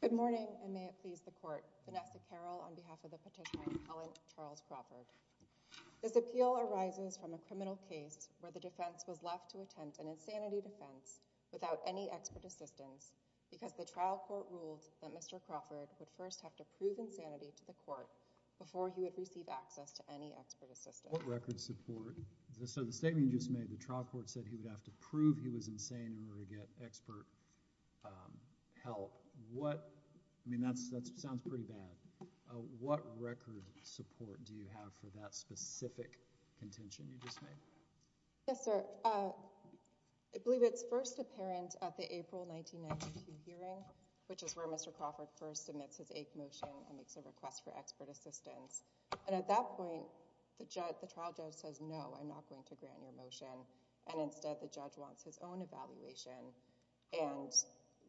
Good morning and may it please the court, Vanessa Carroll on behalf of the petitioner Helen Charles Crawford. This appeal arises from a criminal case where the defense was left to attempt an insanity defense without any expert assistance because the trial court ruled that Mr. Crawford would first have to prove insanity to the court before he would receive access to any expert assistance. What record support? So the statement you just made, the trial court said he would have to prove he was insane in order to get expert help, what, I mean that sounds pretty bad. What record support do you have for that specific contention you just made? Yes, sir. I believe it's first apparent at the April 1992 hearing, which is where Mr. Crawford first submits his AIC motion and makes a request for expert assistance, and at that point the trial judge says, no, I'm not going to grant your motion, and instead the judge wants his own evaluation, and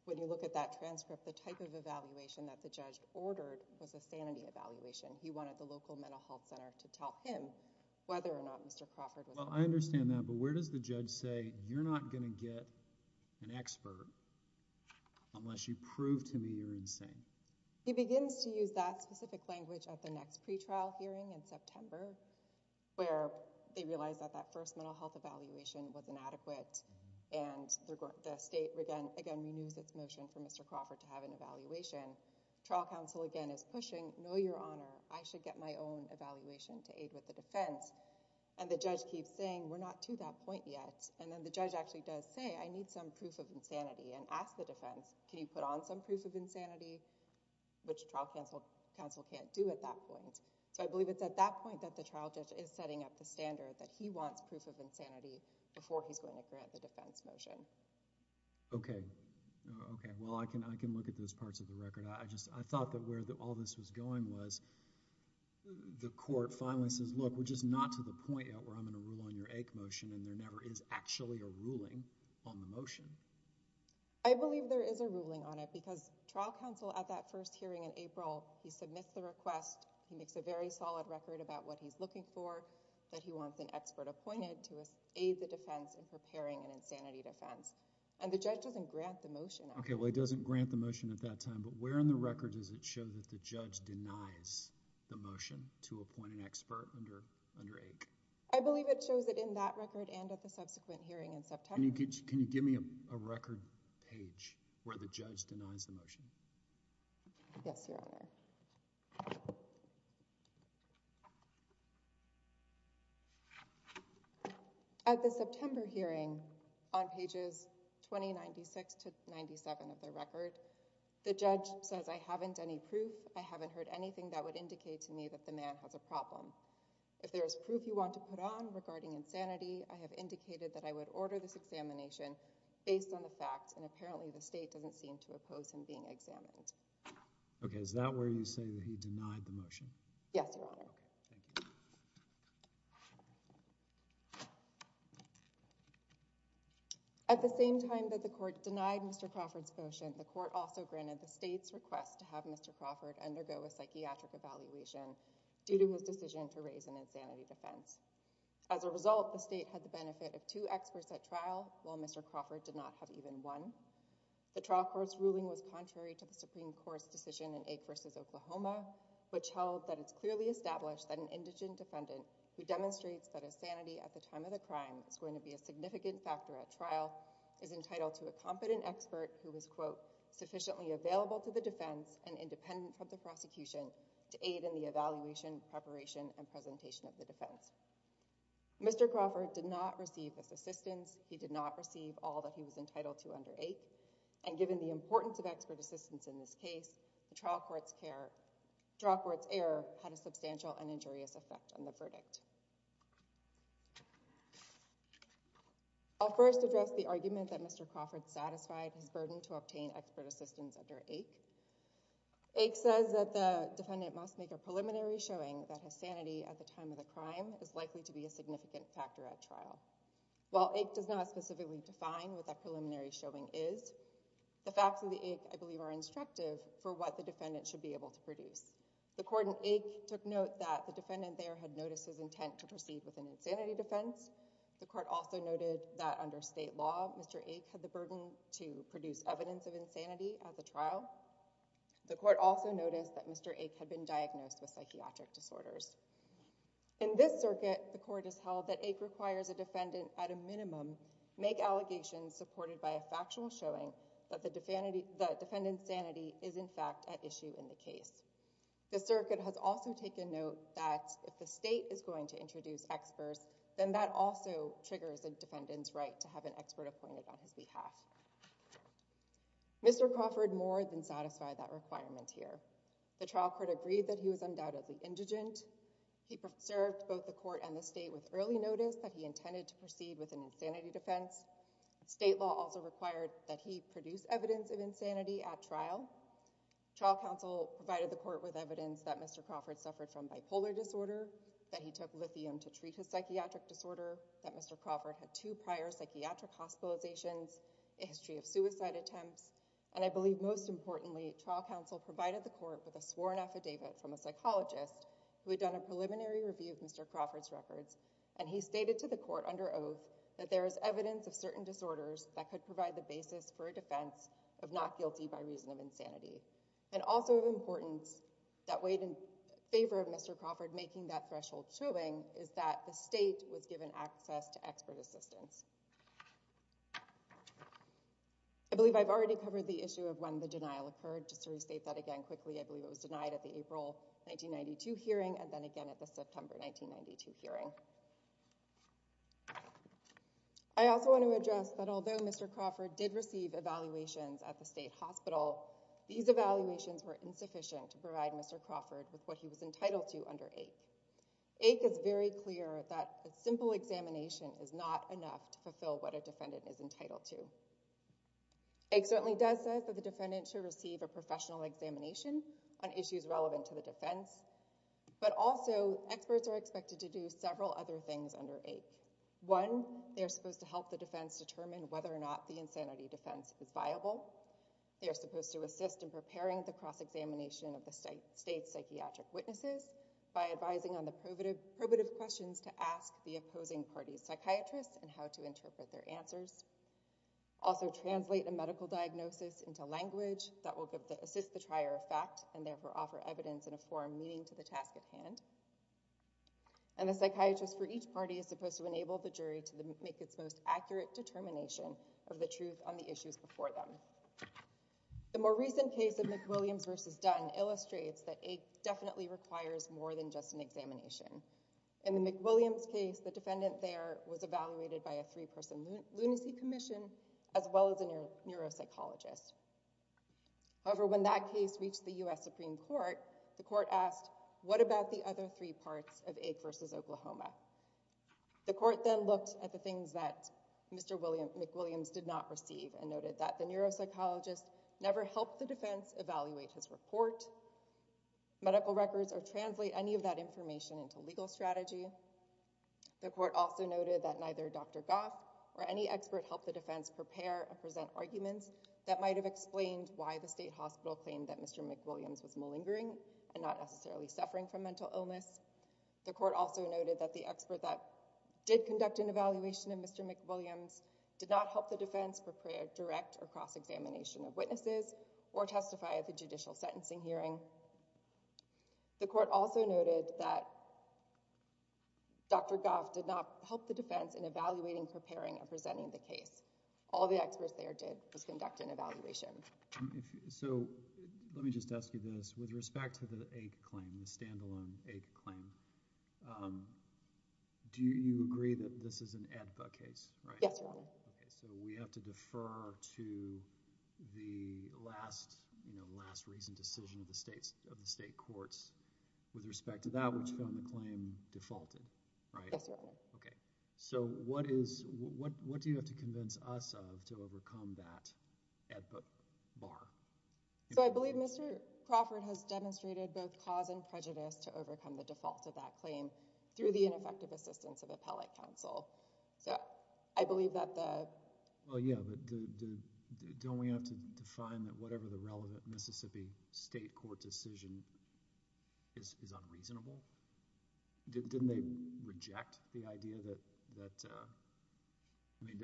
when you look at that transcript, the type of evaluation that the judge ordered was a sanity evaluation. He wanted the local mental health center to tell him whether or not Mr. Crawford was insane. Well, I understand that, but where does the judge say, you're not going to get an expert unless you prove to me you're insane? He begins to use that specific language at the next pretrial hearing in September, where they realize that that first mental health evaluation was inadequate, and the state again renews its motion for Mr. Crawford to have an evaluation. Trial counsel again is pushing, no, your honor, I should get my own evaluation to aid with the defense, and the judge keeps saying, we're not to that point yet, and then the judge actually does say, I need some proof of insanity, and asks the defense, can you put on some proof of insanity, which trial counsel can't do at that point, so I believe it's at that point that the trial judge is setting up the standard that he wants proof of insanity before he's going to grant the defense motion. Okay. Okay. Well, I can look at those parts of the record. I thought that where all this was going was the court finally says, look, we're just not to the point yet where I'm going to rule on your AIC motion, and there never is actually a ruling on the motion. I believe there is a ruling on it, because trial counsel at that first hearing in April, he submits the request, he makes a very solid record about what he's looking for, that he wants an expert appointed to aid the defense in preparing an insanity defense, and the judge doesn't grant the motion. Okay. Well, he doesn't grant the motion at that time, but where in the record does it show that the judge denies the motion to appoint an expert under AIC? I believe it shows that in that record and at the subsequent hearing in September. Can you give me a record page where the judge denies the motion? Yes, Your Honor. At the September hearing, on pages 2096 to 97 of the record, the judge says, I haven't any proof, I haven't heard anything that would indicate to me that the man has a problem. If there is proof you want to put on regarding insanity, I have indicated that I would order this examination based on the facts and apparently the state doesn't seem to oppose him being examined. Okay. Is that where you say that he denied the motion? Yes, Your Honor. Okay. Thank you. At the same time that the court denied Mr. Crawford's motion, the court also granted the state's request to have Mr. Crawford undergo a psychiatric evaluation due to his decision to raise an insanity defense. As a result, the state had the benefit of two experts at trial, while Mr. Crawford did not have even one. The trial court's ruling was contrary to the Supreme Court's decision in AIC v. Oklahoma, which held that it's clearly established that an indigent defendant who demonstrates that insanity at the time of the crime is going to be a significant factor at trial is entitled to a competent expert who is, quote, sufficiently available to the defense and independent from the prosecution to aid in the evaluation, preparation, and presentation of the defense. Mr. Crawford did not receive this assistance. He did not receive all that he was entitled to under AIC. And given the importance of expert assistance in this case, the trial court's error had a substantial and injurious effect on the verdict. I'll first address the argument that Mr. Crawford satisfied his burden to obtain expert assistance under AIC. AIC says that the defendant must make a preliminary showing that his sanity at the time of the crime is likely to be a significant factor at trial. While AIC does not specifically define what that preliminary showing is, the facts of the AIC, I believe, are instructive for what the defendant should be able to produce. The court in AIC took note that the defendant there had noticed his intent to proceed with an insanity defense. The court also noted that under state law, Mr. AIC had the burden to produce evidence of insanity at the trial. The court also noticed that Mr. AIC had been diagnosed with psychiatric disorders. In this circuit, the court has held that AIC requires a defendant, at a minimum, make allegations supported by a factual showing that the defendant's sanity is, in fact, at issue in the case. The circuit has also taken note that if the state is going to introduce experts, then that also triggers a defendant's right to have an expert appointed on his behalf. Mr. Crawford more than satisfied that requirement here. The trial court agreed that he was undoubtedly indigent. He served both the court and the state with early notice that he intended to proceed with an insanity defense. State law also required that he produce evidence of insanity at trial. Trial counsel provided the court with evidence that Mr. Crawford suffered from bipolar disorder, that he took lithium to treat his psychiatric disorder, that Mr. Crawford had two prior psychiatric hospitalizations, a history of suicide attempts, and I believe most importantly, trial counsel provided the court with a sworn affidavit from a psychologist who had done a preliminary review of Mr. Crawford's records, and he stated to the court under oath that there is evidence of certain disorders that could provide the basis for a defense of not guilty by reason of insanity, and also of importance that weighed in favor of Mr. Crawford making that threshold showing is that the state was given access to expert assistance. I believe I've already covered the issue of when the denial occurred, just to restate that again quickly, I believe it was denied at the April 1992 hearing and then again at the September 1992 hearing. I also want to address that although Mr. Crawford did receive evaluations at the state hospital, these evaluations were insufficient to provide Mr. Crawford with what he was entitled to under AIC. AIC is very clear that a simple examination is not enough to fulfill what a defendant is entitled to. AIC certainly does say that the defendant should receive a professional examination on issues relevant to the defense, but also experts are expected to do several other things under AIC. One, they are supposed to help the defense determine whether or not the insanity defense is viable. They are supposed to assist in preparing the cross-examination of the state's psychiatric witnesses by advising on the probative questions to ask the opposing party's psychiatrists and how to interpret their answers. Also translate a medical diagnosis into language that will assist the trier of fact and therefore offer evidence in a forum meaning to the task at hand. And the psychiatrist for each party is supposed to enable the jury to make its most accurate determination of the truth on the issues before them. The more recent case of McWilliams v. Dunn illustrates that AIC definitely requires more than just an examination. In the McWilliams case, the defendant there was evaluated by a three-person lunacy commission as well as a neuropsychologist. However, when that case reached the U.S. Supreme Court, the court asked, what about the other three parts of AIC v. Oklahoma? The court then looked at the things that Mr. McWilliams did not receive and noted that the neuropsychologist never helped the defense evaluate his report, medical records, or translate any of that information into legal strategy. The court also noted that neither Dr. Goff or any expert helped the defense prepare or present arguments that might have explained why the state hospital claimed that Mr. McWilliams was malingering and not necessarily suffering from mental illness. The court also noted that the expert that did conduct an evaluation of Mr. McWilliams did not help the defense prepare a direct or cross-examination of witnesses or testify at the judicial sentencing hearing. The court also noted that Dr. Goff did not help the defense in evaluating, preparing, or presenting the case. All the experts there did was conduct an evaluation. So let me just ask you this. With respect to the AIC claim, the standalone AIC claim, do you agree that this is an AEDPA case? Yes, Your Honor. Okay. So we have to defer to the last, you know, last recent decision of the state courts with respect to that, which found the claim defaulted, right? Yes, Your Honor. Okay. So what is, what do you have to convince us of to overcome that AEDPA bar? So I believe Mr. Crawford has demonstrated both cause and prejudice to overcome the default of that claim through the ineffective assistance of appellate counsel. So I believe that the— Well, yeah, but don't we have to define that whatever the relevant Mississippi state court decision is unreasonable? Didn't they reject the idea that, I mean,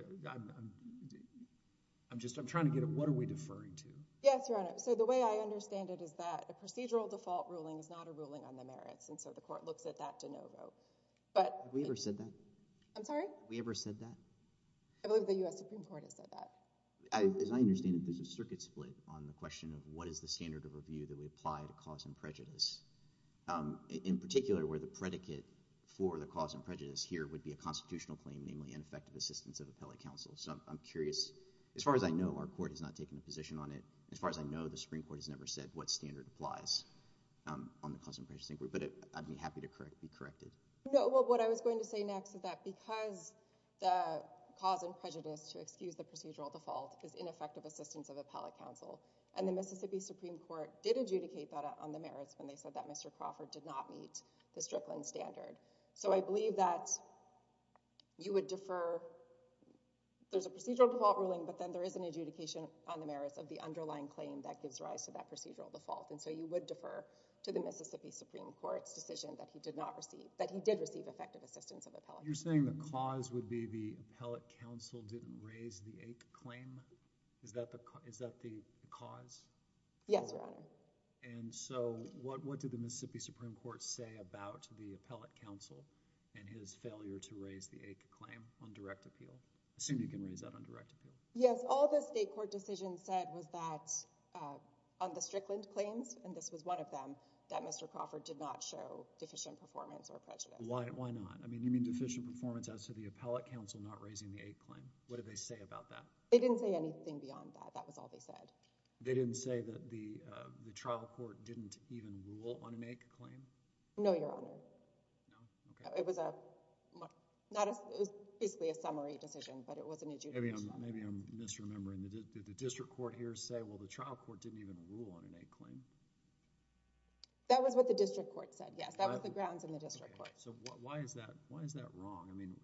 I'm just, I'm trying to get at what are we deferring to? Yes, Your Honor. So the way I understand it is that a procedural default ruling is not a ruling on the merits, and so the court looks at that de novo. But— Have we ever said that? I'm sorry? Have we ever said that? I believe the U.S. Supreme Court has said that. As I understand it, there's a circuit split on the question of what is the standard of review that we apply to cause and prejudice, in particular where the predicate for the cause and prejudice here would be a constitutional claim, namely ineffective assistance of appellate counsel. So I'm curious. As far as I know, our court has not taken a position on it. As far as I know, the Supreme Court has never said what standard applies on the cause and prejudice inquiry. But I'd be happy to correct, be corrected. said what standard applies on the cause and prejudice inquiry. I believe that because the cause and prejudice, to excuse the procedural default, is ineffective assistance of appellate counsel, and the Mississippi Supreme Court did adjudicate that on the merits when they said that Mr. Crawford did not meet the Strickland standard. So I believe that you would defer—there's a procedural default ruling, but then there is an adjudication on the merits of the underlying claim that gives rise to that procedural default. And so you would defer to the Mississippi Supreme Court's decision that he did not You're saying the cause would be the appellate counsel didn't raise the AIC claim? Is that the cause? Yes, Your Honor. And so what did the Mississippi Supreme Court say about the appellate counsel and his failure to raise the AIC claim on direct appeal? Assume you can raise that on direct appeal. Yes. All the state court decision said was that on the Strickland claims, and this was one of them, that Mr. Crawford did not show deficient performance or prejudice. No, no. No, no. No, no. No, no. No, no. No, no. No, no. No, no. They didn't say that he had deficient performance as to the appellate counsel not raising the AIC claim. What did they say about that? They didn't say anything beyond that. That was all they said. They didn't say that the trial court didn't even rule on an AIC claim? No, Your Honor. No. Okay. It was a, not a, it was basically a summary decision, but it wasn't adjudicated? Maybe I'm misremembering. Did the district court here say, well, the trial court didn't even rule on an AIC claim? That was what the district court said. Yes. That was the grounds in the district court. So why is that, why is that wrong? I mean,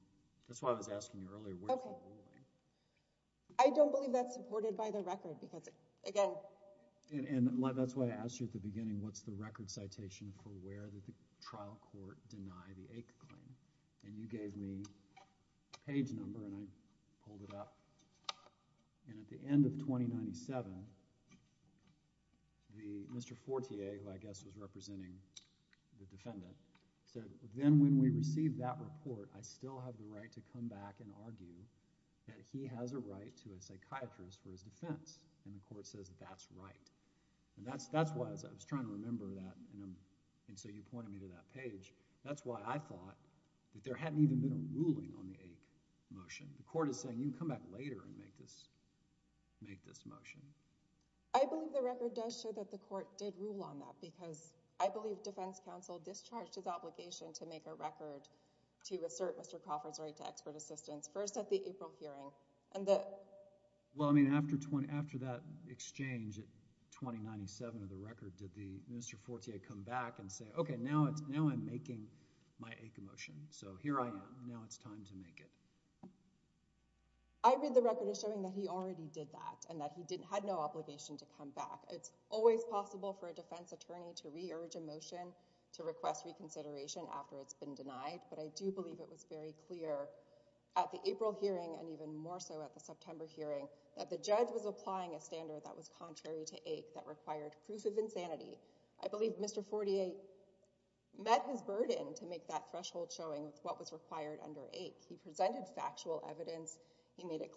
that's why I was asking you earlier, where's the ruling? I don't believe that's supported by the record because, again... And that's why I asked you at the beginning, what's the record citation for where the trial court denied the AIC claim? And you gave me a page number and I pulled it up. And at the end of 2097, the, Mr. Fortier, who I guess was representing the defendant, said, then when we receive that report, I still have the right to come back and argue that he has a right to a psychiatrist for his defense, and the court says that's right. And that's, that's why I was trying to remember that, and so you pointed me to that page. That's why I thought that there hadn't even been a ruling on the AIC motion. The court is saying, you can come back later and make this, make this motion. I believe the record does show that the court did rule on that because I believe defense counsel discharged his obligation to make a record to assert Mr. Crawford's right to expert assistance, first at the April hearing, and the... Well, I mean, after, after that exchange in 2097 of the record, did the, Mr. Fortier come back and say, okay, now it's, now I'm making my AIC motion, so here I am, now it's time to make it? I believe the record is showing that he already did that and that he didn't, had no obligation to come back. It's always possible for a defense attorney to re-urge a motion to request reconsideration after it's been denied, but I do believe it was very clear at the April hearing and even more so at the September hearing that the judge was applying a standard that was contrary to AIC that required proof of insanity. I believe Mr. Fortier met his burden to make that threshold showing what was required under AIC. He presented factual evidence. Mr.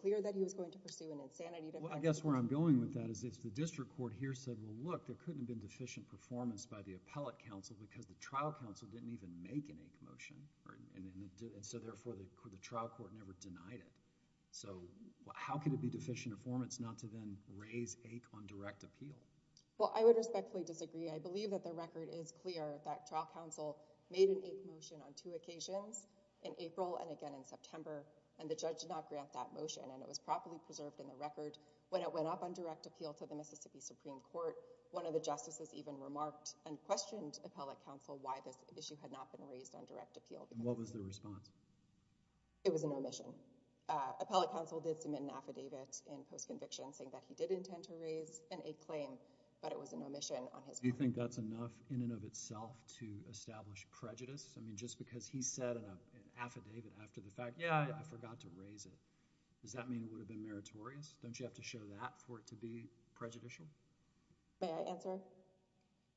Fortier said, well, look, there couldn't have been deficient performance by the appellate counsel because the trial counsel didn't even make an AIC motion, and so therefore, the trial court never denied it. So how could it be deficient performance not to then raise AIC on direct appeal? Well, I would respectfully disagree. I believe that the record is clear that trial counsel made an AIC motion on two occasions, in April and again in September, and the judge did not grant that motion, and it was properly preserved in the record. When it went up on direct appeal to the Mississippi Supreme Court, one of the justices even remarked and questioned appellate counsel why this issue had not been raised on direct appeal. And what was their response? It was an omission. Appellate counsel did submit an affidavit in post-conviction saying that he did intend to raise an AIC claim, but it was an omission on his part. Do you think that's enough in and of itself to establish prejudice? I mean, just because he said in an affidavit after the fact, yeah, I forgot to raise it, does that mean it would have been meritorious? Don't you have to show that for it to be prejudicial? May I answer?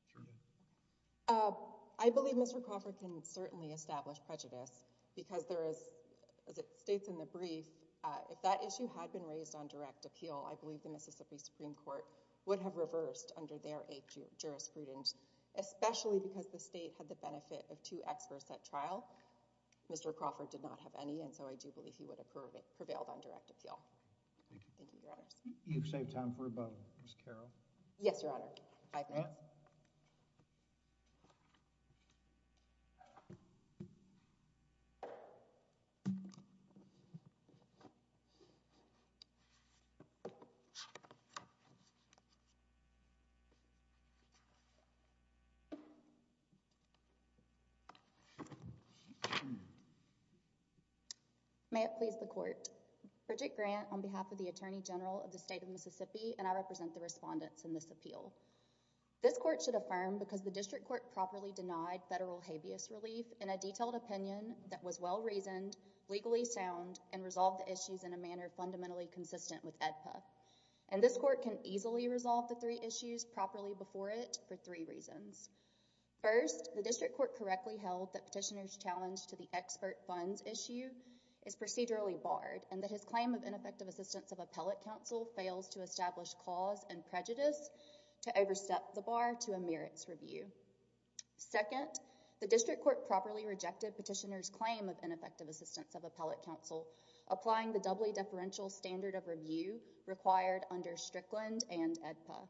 Certainly. I believe Mr. Crawford can certainly establish prejudice because there is, as it states in the brief, if that issue had been raised on direct appeal, I believe the Mississippi Supreme Court would have reversed under their jurisprudence, especially because the state had the benefit of two experts at trial. Mr. Crawford did not have any, and so I do believe he would have prevailed on direct appeal. Thank you, Your Honors. You've saved time for a vote. Ms. Carroll? Yes, Your Honor. Five minutes. May it please the Court, Bridget Grant, on behalf of the Attorney General of the State of Mississippi, and I represent the respondents in this appeal. This court should affirm because the district court properly denied federal habeas relief in a detailed opinion that was well-reasoned, legally sound, and resolved the issues in a manner fundamentally consistent with AEDPA, and this court can easily resolve the three issues properly before it for three reasons. First, the district court correctly held that Petitioner's challenge to the expert funds issue is procedurally barred, and that his claim of ineffective assistance of appellate counsel fails to establish cause and prejudice to overstep the bar to a merits review. Second, the district court properly rejected Petitioner's claim of ineffective assistance of appellate counsel applying the doubly deferential standard of review required under Strickland and AEDPA.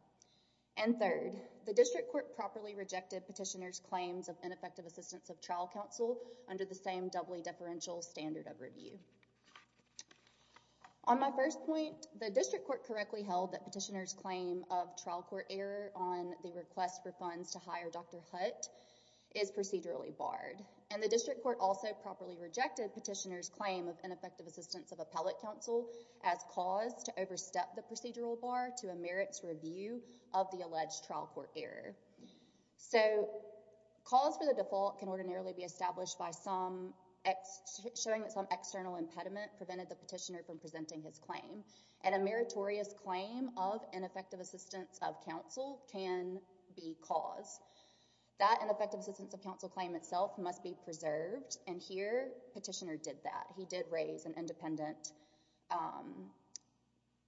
And third, the district court properly rejected Petitioner's claims of ineffective assistance of trial counsel under the same doubly deferential standard of review. On my first point, the district court correctly held that Petitioner's claim of trial court error on the request for funds to hire Dr. Hutt is procedurally barred, and the district court also properly rejected Petitioner's claim of ineffective assistance of appellate counsel as cause to overstep the procedural bar to a merits review of the alleged trial court error. So, cause for the default can ordinarily be established by showing that some external impediment prevented the petitioner from presenting his claim, and a meritorious claim of ineffective assistance of counsel can be cause. That ineffective assistance of counsel claim itself must be preserved, and here, Petitioner did that. He did raise an independent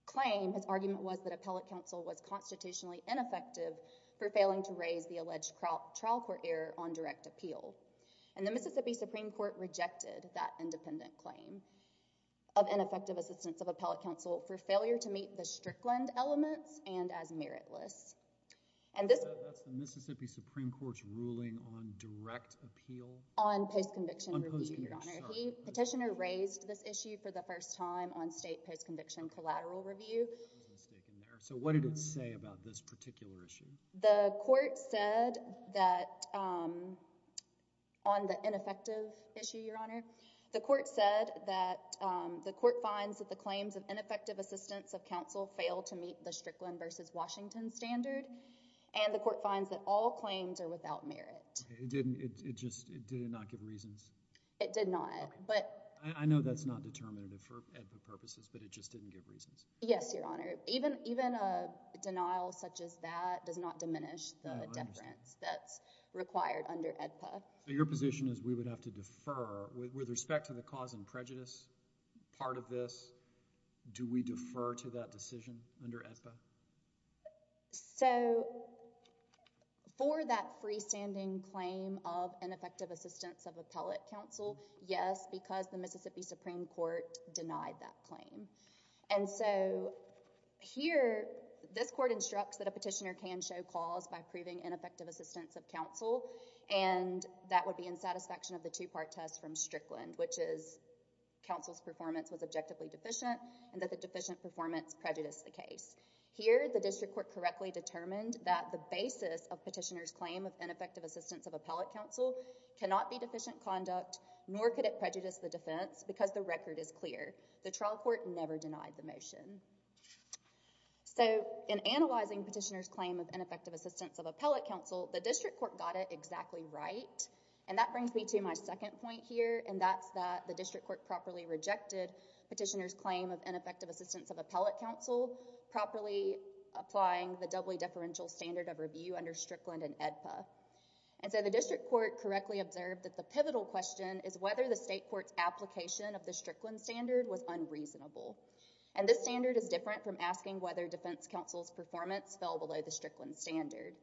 claim, his argument was that appellate counsel was constitutionally ineffective for failing to raise the alleged trial court error on direct appeal. And the Mississippi Supreme Court rejected that independent claim of ineffective assistance of appellate counsel for failure to meet the Strickland elements and as meritless. And this- That's the Mississippi Supreme Court's ruling on direct appeal? On post-conviction review, Your Honor. He, Petitioner, raised this issue for the first time on state post-conviction collateral review. So, what did it say about this particular issue? The court said that, on the ineffective issue, Your Honor, the court said that the court finds that the claims of ineffective assistance of counsel fail to meet the Strickland versus Washington standard, and the court finds that all claims are without merit. It didn't, it just, did it not give reasons? It did not. But- I know that's not determinative for ed-pub purposes, but it just didn't give reasons. Yes, Your Honor. Even, even a denial such as that does not diminish the deference that's required under EDPA. So, your position is we would have to defer. With respect to the cause and prejudice part of this, do we defer to that decision under EDPA? So, for that freestanding claim of ineffective assistance of appellate counsel, yes, because the Mississippi Supreme Court denied that claim. And so, here, this court instructs that a petitioner can show cause by proving ineffective assistance of counsel, and that would be in satisfaction of the two-part test from Strickland, which is counsel's performance was objectively deficient, and that the deficient performance prejudiced the case. Here, the district court correctly determined that the basis of petitioner's claim of ineffective assistance of appellate counsel cannot be deficient conduct, nor could it prejudice the defense, because the record is clear. The trial court never denied the motion. So, in analyzing petitioner's claim of ineffective assistance of appellate counsel, the district court got it exactly right. And that brings me to my second point here, and that's that the district court properly rejected petitioner's claim of ineffective assistance of appellate counsel, properly applying the doubly deferential standard of review under Strickland and EDPA. And so, the district court correctly observed that the pivotal question is whether the state court's application of the Strickland standard was unreasonable. And this standard is different from asking whether defense counsel's performance fell below the Strickland standard.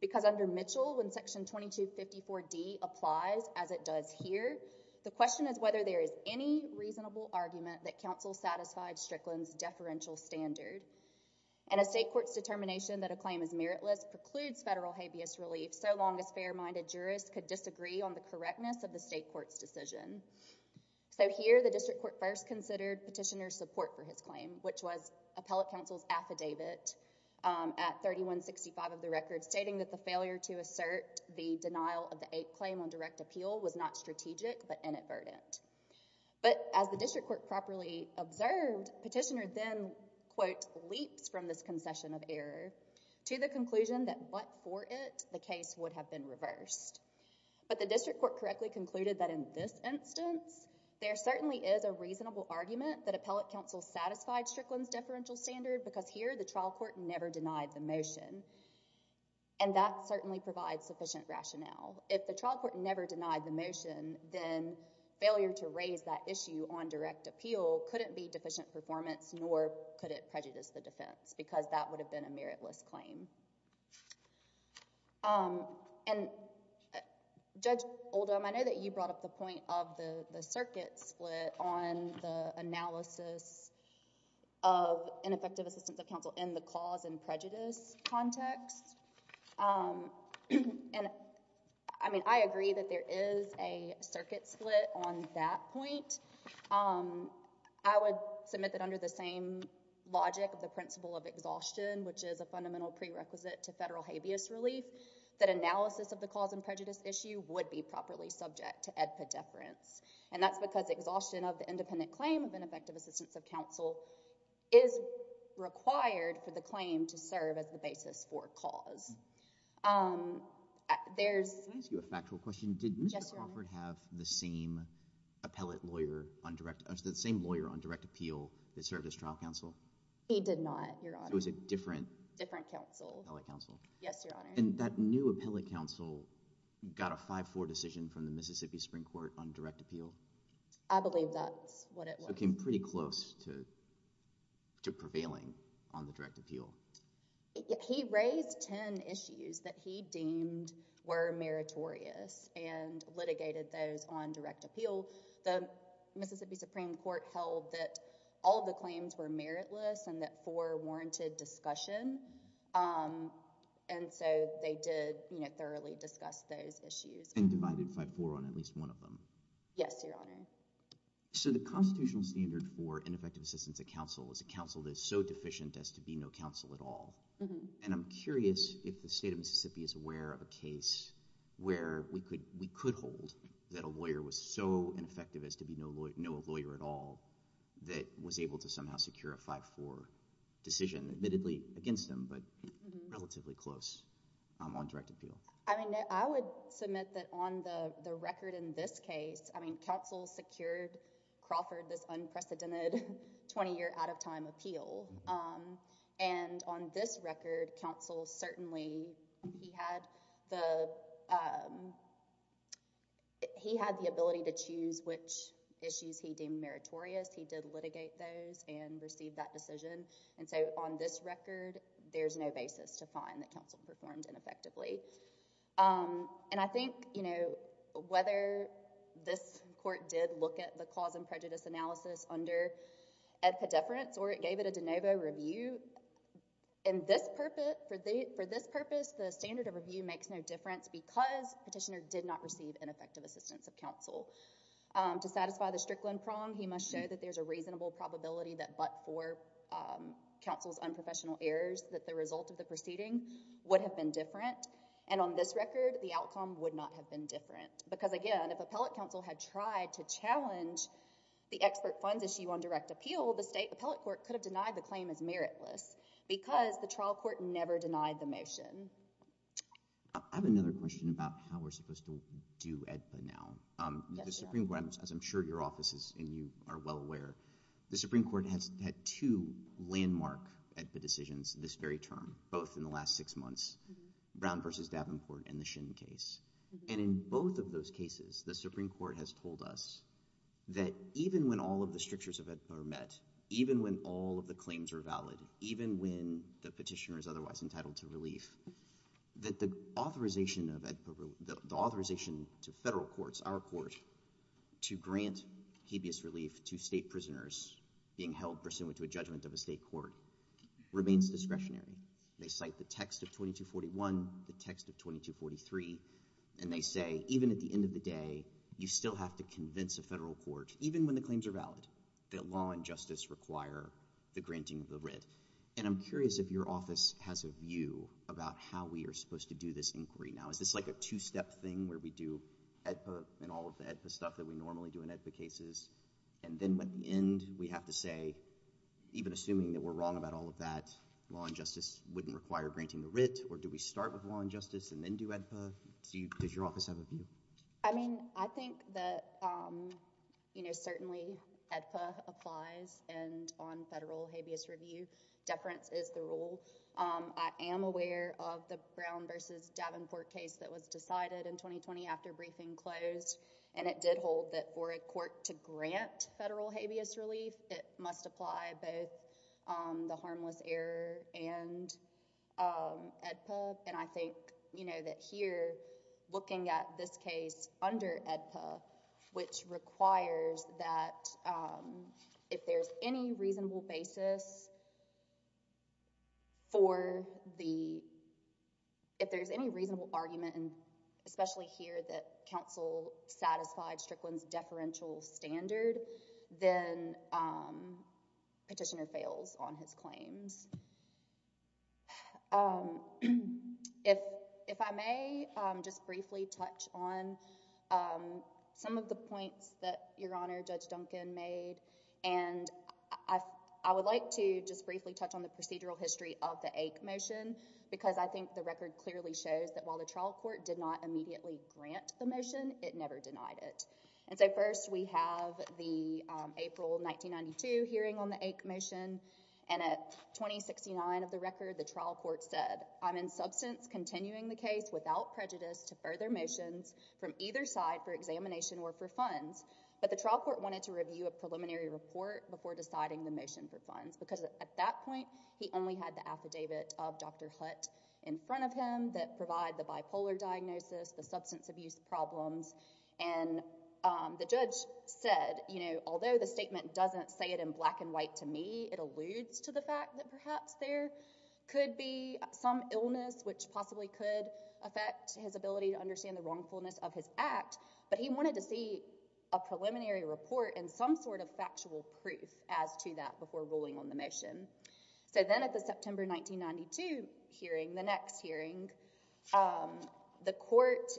Because under Mitchell, when section 2254D applies as it does here, the question is whether there is any reasonable argument that counsel satisfied Strickland's deferential standard. And a state court's determination that a claim is meritless precludes federal habeas relief so long as fair-minded jurists could disagree on the correctness of the state court's decision. So here, the district court first considered petitioner's support for his claim, which was appellate counsel's affidavit at 3165 of the record stating that the failure to assert the denial of the ape claim on direct appeal was not strategic but inadvertent. But as the district court properly observed, petitioner then, quote, leaps from this concession of error to the conclusion that but for it, the case would have been reversed. But the district court correctly concluded that in this instance, there certainly is a reasonable argument that appellate counsel satisfied Strickland's deferential standard because here, the trial court never denied the motion. And that certainly provides sufficient rationale. If the trial court never denied the motion, then failure to raise that issue on direct appeal couldn't be deficient performance nor could it prejudice the defense because that would have been a meritless claim. Um, and Judge Oldham, I know that you brought up the point of the circuit split on the analysis of ineffective assistance of counsel in the cause and prejudice context. Um, and I mean, I agree that there is a circuit split on that point. Um, I would submit that under the same logic of the principle of exhaustion, which is a prerequisite to federal habeas relief, that analysis of the cause and prejudice issue would be properly subject to AEDPA deference. And that's because exhaustion of the independent claim of ineffective assistance of counsel is required for the claim to serve as the basis for cause. Um, there's- Can I ask you a factual question? Yes, Your Honor. Did Mr. Crawford have the same appellate lawyer on direct, the same lawyer on direct appeal that served as trial counsel? He did not, Your Honor. So it was a different- Appellate counsel. Yes, Your Honor. And that new appellate counsel got a 5-4 decision from the Mississippi Supreme Court on direct appeal? I believe that's what it was. So it came pretty close to prevailing on the direct appeal. He raised 10 issues that he deemed were meritorious and litigated those on direct appeal. The Mississippi Supreme Court held that all of the claims were meritless and that four And so they did, you know, thoroughly discuss those issues. And divided 5-4 on at least one of them? Yes, Your Honor. So the constitutional standard for ineffective assistance of counsel is a counsel that's so deficient as to be no counsel at all. And I'm curious if the state of Mississippi is aware of a case where we could hold that a lawyer was so ineffective as to be no lawyer at all that was able to somehow secure a 5-4 decision, admittedly against him, but relatively close on direct appeal? I would submit that on the record in this case, I mean, counsel secured Crawford this unprecedented 20-year out-of-time appeal. And on this record, counsel certainly, he had the ability to choose which issues he deemed meritorious. He did litigate those and received that decision. And so on this record, there's no basis to find that counsel performed ineffectively. And I think, you know, whether this court did look at the cause and prejudice analysis under ed pediferance or it gave it a de novo review, in this purpose, for this purpose, the standard of review makes no difference because petitioner did not receive ineffective assistance of counsel. To satisfy the Strickland prong, he must show that there's a reasonable probability that but for counsel's unprofessional errors, that the result of the proceeding would have been different. And on this record, the outcome would not have been different. Because again, if appellate counsel had tried to challenge the expert funds issue on direct appeal, the state appellate court could have denied the claim as meritless because the trial court never denied the motion. I have another question about how we're supposed to do EDPA now. The Supreme Court, as I'm sure your office is and you are well aware, the Supreme Court has had two landmark EDPA decisions this very term, both in the last six months, Brown v. Davenport and the Shin case. And in both of those cases, the Supreme Court has told us that even when all of the strictures of EDPA are met, even when all of the claims are valid, even when the petitioner is otherwise entitled to relief, that the authorization to federal courts, our court, to grant habeas relief to state prisoners being held pursuant to a judgment of a state court remains discretionary. They cite the text of 2241, the text of 2243, and they say, even at the end of the day, you still have to convince a federal court, even when the claims are valid, that law and justice require the granting of the writ. And I'm curious if your office has a view about how we are supposed to do this inquiry now. Is this like a two-step thing where we do EDPA and all of the EDPA stuff that we normally do in EDPA cases, and then at the end, we have to say, even assuming that we're wrong about all of that, law and justice wouldn't require granting the writ, or do we start with law and justice and then do EDPA? Does your office have a view? I mean, I think that certainly EDPA applies, and on federal habeas review, deference is the rule. I am aware of the Brown v. Davenport case that was decided in 2020 after briefing closed, and it did hold that for a court to grant federal habeas relief, it must apply both the harmless error and EDPA. And I think that here, looking at this case under EDPA, which requires that if there's any reasonable basis for the... if there's any reasonable argument, especially here that counsel satisfied Strickland's deferential standard, then petitioner fails on his claims. If I may, just briefly touch on some of the points that Your Honor, Judge Duncan made, and I would like to just briefly touch on the procedural history of the AIC motion, because I think the record clearly shows that while the trial court did not immediately grant the motion, it never denied it. And so first we have the April 1992 hearing on the AIC motion, and at 2069 of the record, the trial court said, I'm in substance continuing the case without prejudice to further motions from either side for examination or for funds, but the trial court wanted to review a preliminary report before deciding the motion for funds, because at that point, he only had the affidavit of Dr. Hutt in front of him that provided the bipolar diagnosis, the substance abuse problems, and the judge said, you know, although the statement doesn't say it in black and white to me, it alludes to the fact that perhaps there could be some illness which possibly could affect his ability to understand the wrongfulness of his act, but he wanted to see a preliminary report and some sort of factual proof as to that before ruling on the motion. So then at the September 1992 hearing, the next hearing, the court,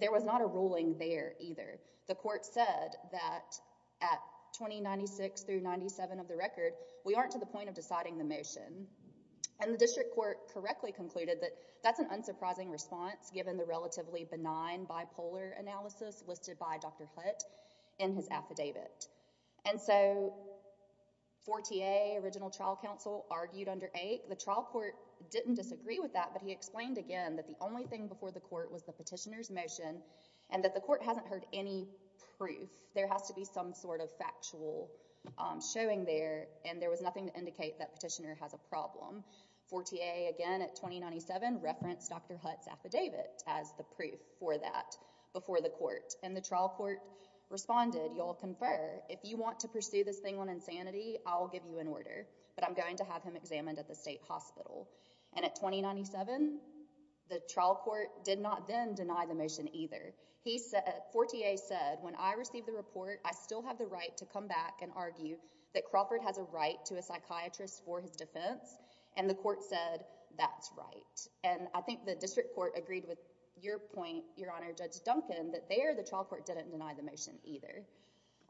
there was not a ruling there either. The court said that at 2096 through 97 of the record, we aren't to the point of deciding the motion, and the district court correctly concluded that that's an unsurprising response given the relatively benign bipolar analysis listed by Dr. Hutt in his affidavit. And so 4TA, original trial counsel, argued under AIC. The trial court didn't disagree with that, but he explained again that the only thing before the court was the petitioner's motion and that the court hasn't heard any proof. There has to be some sort of factual showing there, and there was nothing to indicate that petitioner has a problem. 4TA again at 2097 referenced Dr. Hutt's affidavit as the proof for that before the court, and the trial court responded, you'll confer. If you want to pursue this thing on insanity, I'll give you an order, but I'm going to have him examined at the state hospital. And at 2097, the trial court did not then deny the motion either. 4TA said, when I receive the report, I still have the right to come back and argue that Crawford has a right to a psychiatrist for his defense, and the court said, that's right. And I think the district court agreed with your point, Your Honor, Judge Duncan, that the trial court didn't deny the motion either.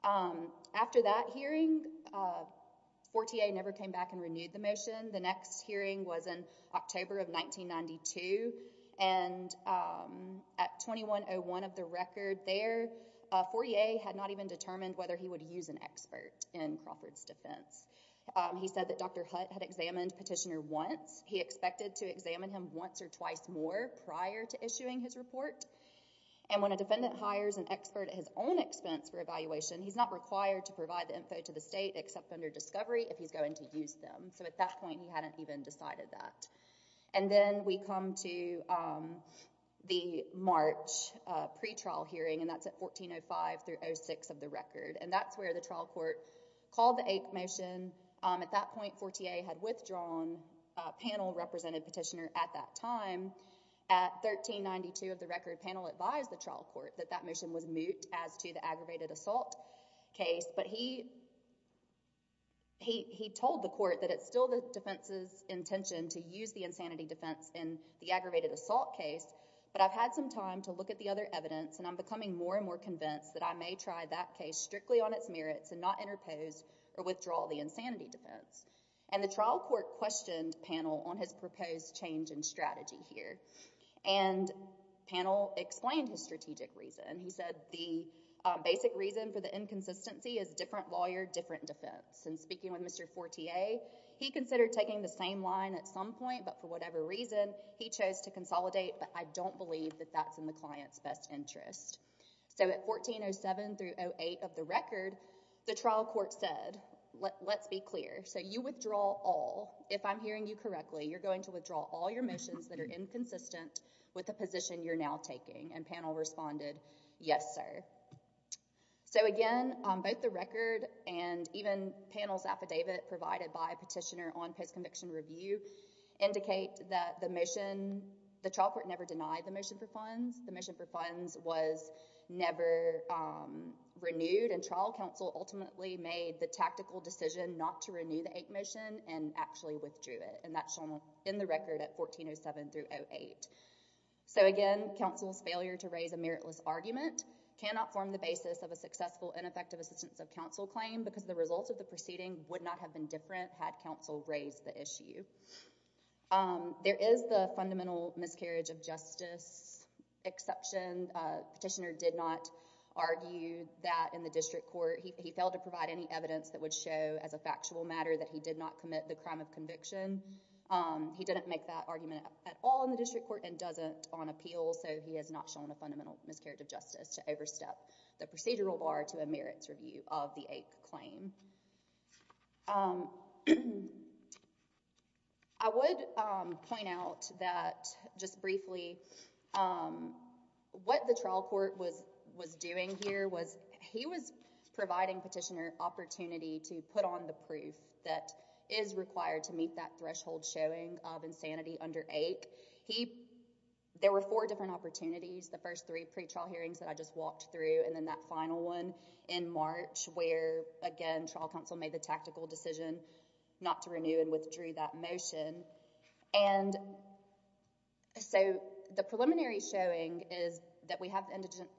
After that hearing, 4TA never came back and renewed the motion. The next hearing was in October of 1992, and at 2101 of the record there, 4TA had not even determined whether he would use an expert in Crawford's defense. He said that Dr. Hutt had examined petitioner once. He expected to examine him once or twice more prior to issuing his report, and when a defendant hires an expert at his own expense for evaluation, he's not required to provide the info to the state except under discovery if he's going to use them. So at that point, he hadn't even decided that. And then we come to the March pretrial hearing, and that's at 1405 through 06 of the record, and that's where the trial court called the AIC motion. At that point, 4TA had withdrawn a panel-represented petitioner at that time. At 1392 of the record, panel advised the trial court that that motion was moot as to the aggravated assault case, but he told the court that it's still the defense's intention to use the insanity defense in the aggravated assault case, but I've had some time to look at the other evidence, and I'm becoming more and more convinced that I may try that case strictly on its merits and not interpose or withdraw the insanity defense. And the trial court questioned panel on his proposed change in strategy here, and panel explained his strategic reason. He said the basic reason for the inconsistency is different lawyer, different defense. And speaking with Mr. 4TA, he considered taking the same line at some point, but for whatever reason he chose to consolidate, but I don't believe that that's in the client's best interest. So at 1407 through 08 of the record, the trial court said, let's be clear. So you withdraw all, if I'm hearing you correctly, you're going to withdraw all your motions that are inconsistent with the position you're now taking, and panel responded, yes, sir. So again, both the record and even panel's affidavit provided by petitioner on post-conviction review indicate that the trial court never denied the motion for funds. The motion for funds was never renewed, and trial counsel ultimately made the tactical decision not to renew the 8 motion and actually withdrew it, and that's shown in the record at 1407 through 08. So again, counsel's failure to raise a meritless argument cannot form the basis of a successful and effective assistance of counsel claim because the results of the proceeding would not have been different had counsel raised the issue. There is the fundamental miscarriage of justice exception. Petitioner did not argue that in the district court, he failed to provide any evidence that would show as a factual matter that he did not commit the crime of conviction. He didn't make that argument at all in the district court and doesn't on appeal, so he has not shown a fundamental miscarriage of justice to overstep the procedural bar to a merits review of the 8 claim. I would point out that, just briefly, what the trial court was doing here was he was trying to put on the proof that is required to meet that threshold showing of insanity under 8. There were four different opportunities, the first three pre-trial hearings that I just walked through and then that final one in March where, again, trial counsel made the tactical decision not to renew and withdrew that motion, and so the preliminary showing is that we have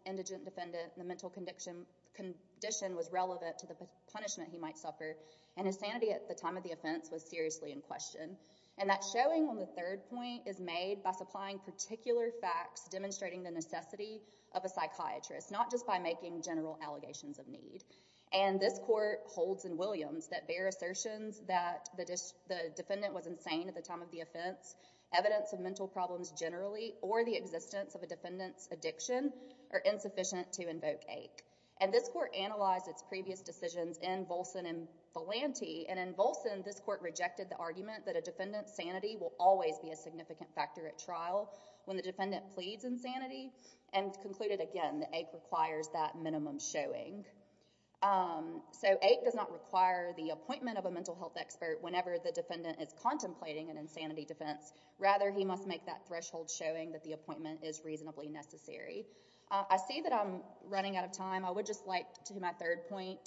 indigent defendant, the mental condition was relevant to the punishment he might suffer, and insanity at the time of the offense was seriously in question. And that showing on the third point is made by supplying particular facts demonstrating the necessity of a psychiatrist, not just by making general allegations of need. And this court holds in Williams that their assertions that the defendant was insane at the time of the offense, evidence of mental problems generally, or the existence of a defendant's addiction are insufficient to invoke 8. And this court analyzed its previous decisions in Volson and Volante, and in Volson this court rejected the argument that a defendant's sanity will always be a significant factor at trial when the defendant pleads insanity, and concluded, again, that 8 requires that minimum showing. So 8 does not require the appointment of a mental health expert whenever the defendant is contemplating an insanity defense, rather he must make that threshold showing that the appointment is reasonably necessary. I see that I'm running out of time. I would just like to do my third point,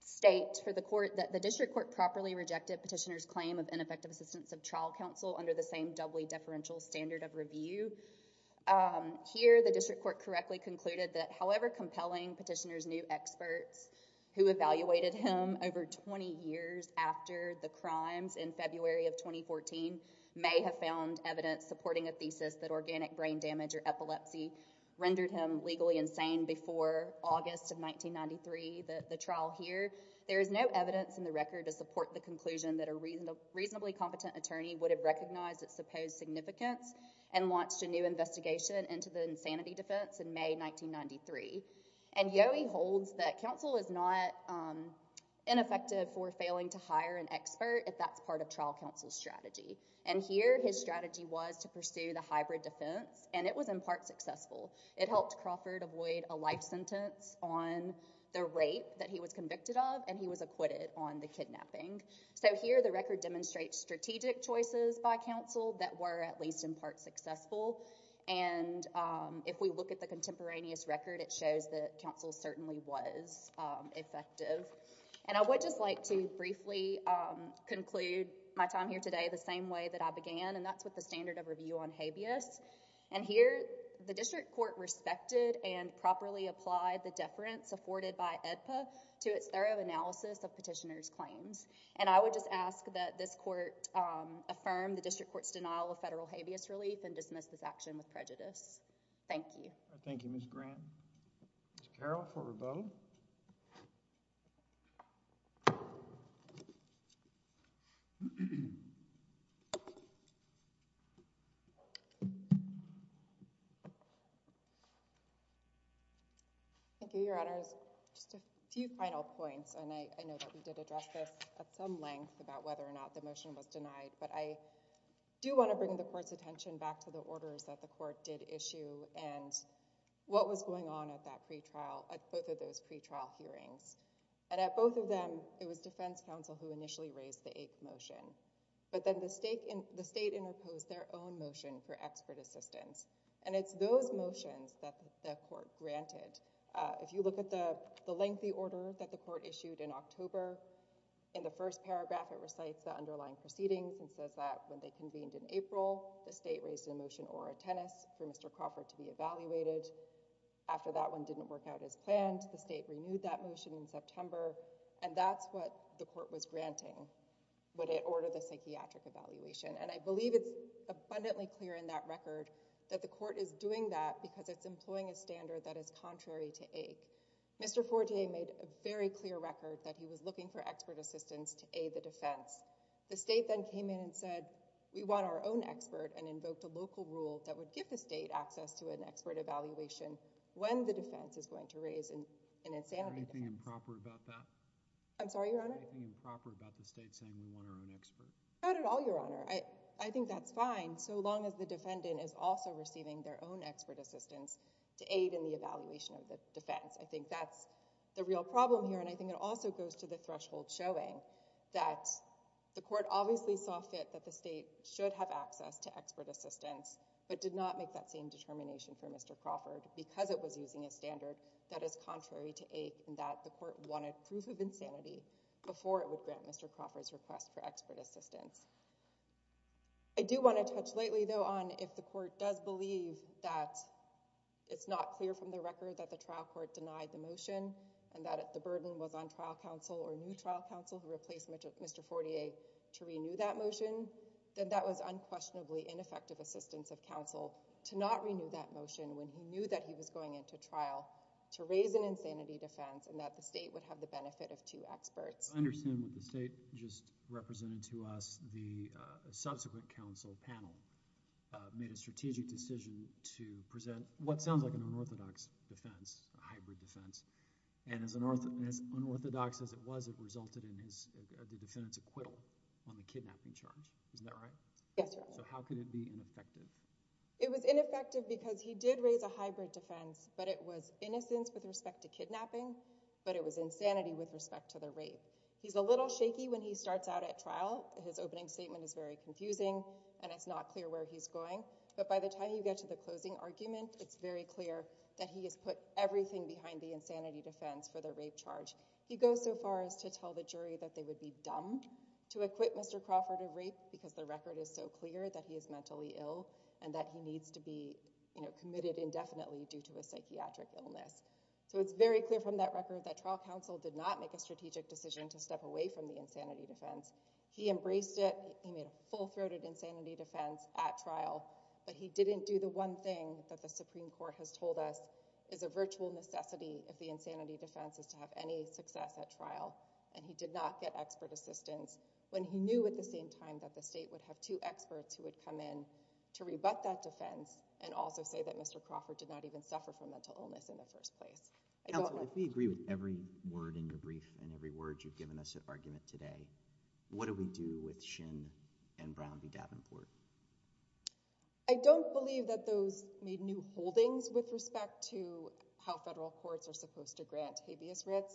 state for the court that the district court properly rejected Petitioner's claim of ineffective assistance of trial counsel under the same doubly deferential standard of review. Here the district court correctly concluded that however compelling Petitioner's new experts, who evaluated him over 20 years after the crimes in February of 2014, may have found evidence supporting a thesis that organic brain damage or epilepsy rendered him legally insane before August of 1993, the trial here. There is no evidence in the record to support the conclusion that a reasonably competent attorney would have recognized its supposed significance and launched a new investigation into the insanity defense in May 1993. And Yohe holds that counsel is not ineffective for failing to hire an expert if that's part of trial counsel's strategy. And here his strategy was to pursue the hybrid defense and it was in part successful. It helped Crawford avoid a life sentence on the rape that he was convicted of and he was acquitted on the kidnapping. So here the record demonstrates strategic choices by counsel that were at least in part successful and if we look at the contemporaneous record it shows that counsel certainly was effective. And I would just like to briefly conclude my time here today the same way that I began and that's with the standard of review on habeas. And here the district court respected and properly applied the deference afforded by AEDPA to its thorough analysis of Petitioner's claims. And I would just ask that this court affirm the district court's denial of federal habeas relief and dismiss this action with prejudice. Thank you. Thank you, Ms. Grant. Ms. Carroll for rebuttal. Thank you, Your Honors. Just a few final points and I know that we did address this at some length about whether or not the motion was denied, but I do want to bring the court's attention back to the what was going on at that pre-trial, at both of those pre-trial hearings. And at both of them it was defense counsel who initially raised the eighth motion, but then the state interposed their own motion for expert assistance. And it's those motions that the court granted. If you look at the lengthy order that the court issued in October, in the first paragraph it recites the underlying proceedings and says that when they convened in April, the After that one didn't work out as planned, the state renewed that motion in September and that's what the court was granting when it ordered the psychiatric evaluation. And I believe it's abundantly clear in that record that the court is doing that because it's employing a standard that is contrary to AIC. Mr. Fortier made a very clear record that he was looking for expert assistance to aid the defense. The state then came in and said, we want our own expert and invoked a local rule that would give the state access to an expert evaluation when the defense is going to raise an insanity defense. Are you being improper about that? I'm sorry, Your Honor? Are you being improper about the state saying we want our own expert? Not at all, Your Honor. I think that's fine so long as the defendant is also receiving their own expert assistance to aid in the evaluation of the defense. I think that's the real problem here and I think it also goes to the threshold showing that the court obviously saw fit that the state should have access to expert assistance but did not make that same determination for Mr. Crawford because it was using a standard that is contrary to AIC and that the court wanted proof of insanity before it would grant Mr. Crawford's request for expert assistance. I do want to touch lightly though on if the court does believe that it's not clear from the record that the trial court denied the motion and that the burden was on trial counsel or new trial counsel who replaced Mr. Fortier to renew that motion, then that was unquestionably ineffective assistance of counsel to not renew that motion when he knew that he was going into trial to raise an insanity defense and that the state would have the benefit of two experts. I understand what the state just represented to us, the subsequent counsel panel made a strategic decision to present what sounds like an unorthodox defense, a hybrid defense and as unorthodox as it was, it resulted in the defendant's acquittal on the kidnapping charge. Isn't that right? Yes, Your Honor. So how could it be ineffective? It was ineffective because he did raise a hybrid defense, but it was innocence with respect to kidnapping, but it was insanity with respect to the rape. He's a little shaky when he starts out at trial. His opening statement is very confusing and it's not clear where he's going, but by the time you get to the closing argument, it's very clear that he has put everything behind the insanity defense for the rape charge. He goes so far as to tell the jury that they would be dumb to acquit Mr. Crawford of rape because the record is so clear that he is mentally ill and that he needs to be committed indefinitely due to a psychiatric illness. So it's very clear from that record that trial counsel did not make a strategic decision to step away from the insanity defense. He embraced it. He made a full-throated insanity defense at trial, but he didn't do the one thing that the Supreme Court has told us is a virtual necessity if the insanity defense is to have any success at trial and he did not get expert assistance when he knew at the same time that the state would have two experts who would come in to rebut that defense and also say that Mr. Crawford did not even suffer from mental illness in the first place. Counsel, if we agree with every word in your brief and every word you've given us at argument today, what do we do with Shin and Brown v. Davenport? I don't believe that those made new holdings with respect to how federal courts are supposed to grant habeas writs.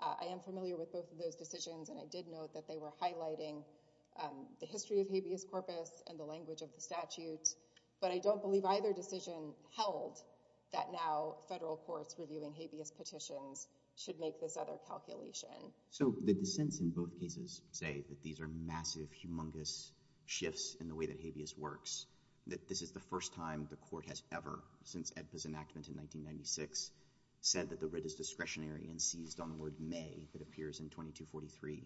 I am familiar with both of those decisions, and I did note that they were highlighting the history of habeas corpus and the language of the statute, but I don't believe either decision held that now federal courts reviewing habeas petitions should make this other calculation. So the dissents in both cases say that these are massive, humongous shifts in the way that habeas works, that this is the first time the court has ever, since AEDPA's enactment in 1996, said that the writ is discretionary and seized on the word may that appears in 2243.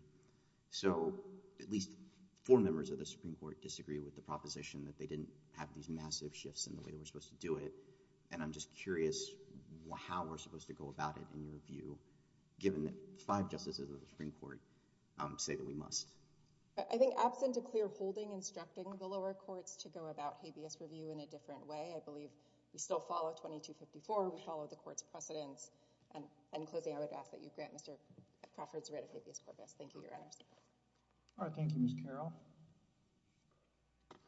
So at least four members of the Supreme Court disagree with the proposition that they didn't have these massive shifts in the way that we're supposed to do it, and I'm just curious how we're supposed to go about it in your view, given that five justices of the Supreme Court say that we must. I think absent a clear holding instructing the lower courts to go about habeas review in a different way. I believe we still follow 2254, we follow the court's precedents, and in closing I would ask that you grant Mr. Crawford's writ of habeas corpus. Thank you, Your Honor. All right. Thank you, Ms. Carroll.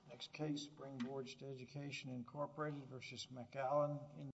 Next case, Spring Gorge to Education, Incorporated, versus McAllen, Indiana.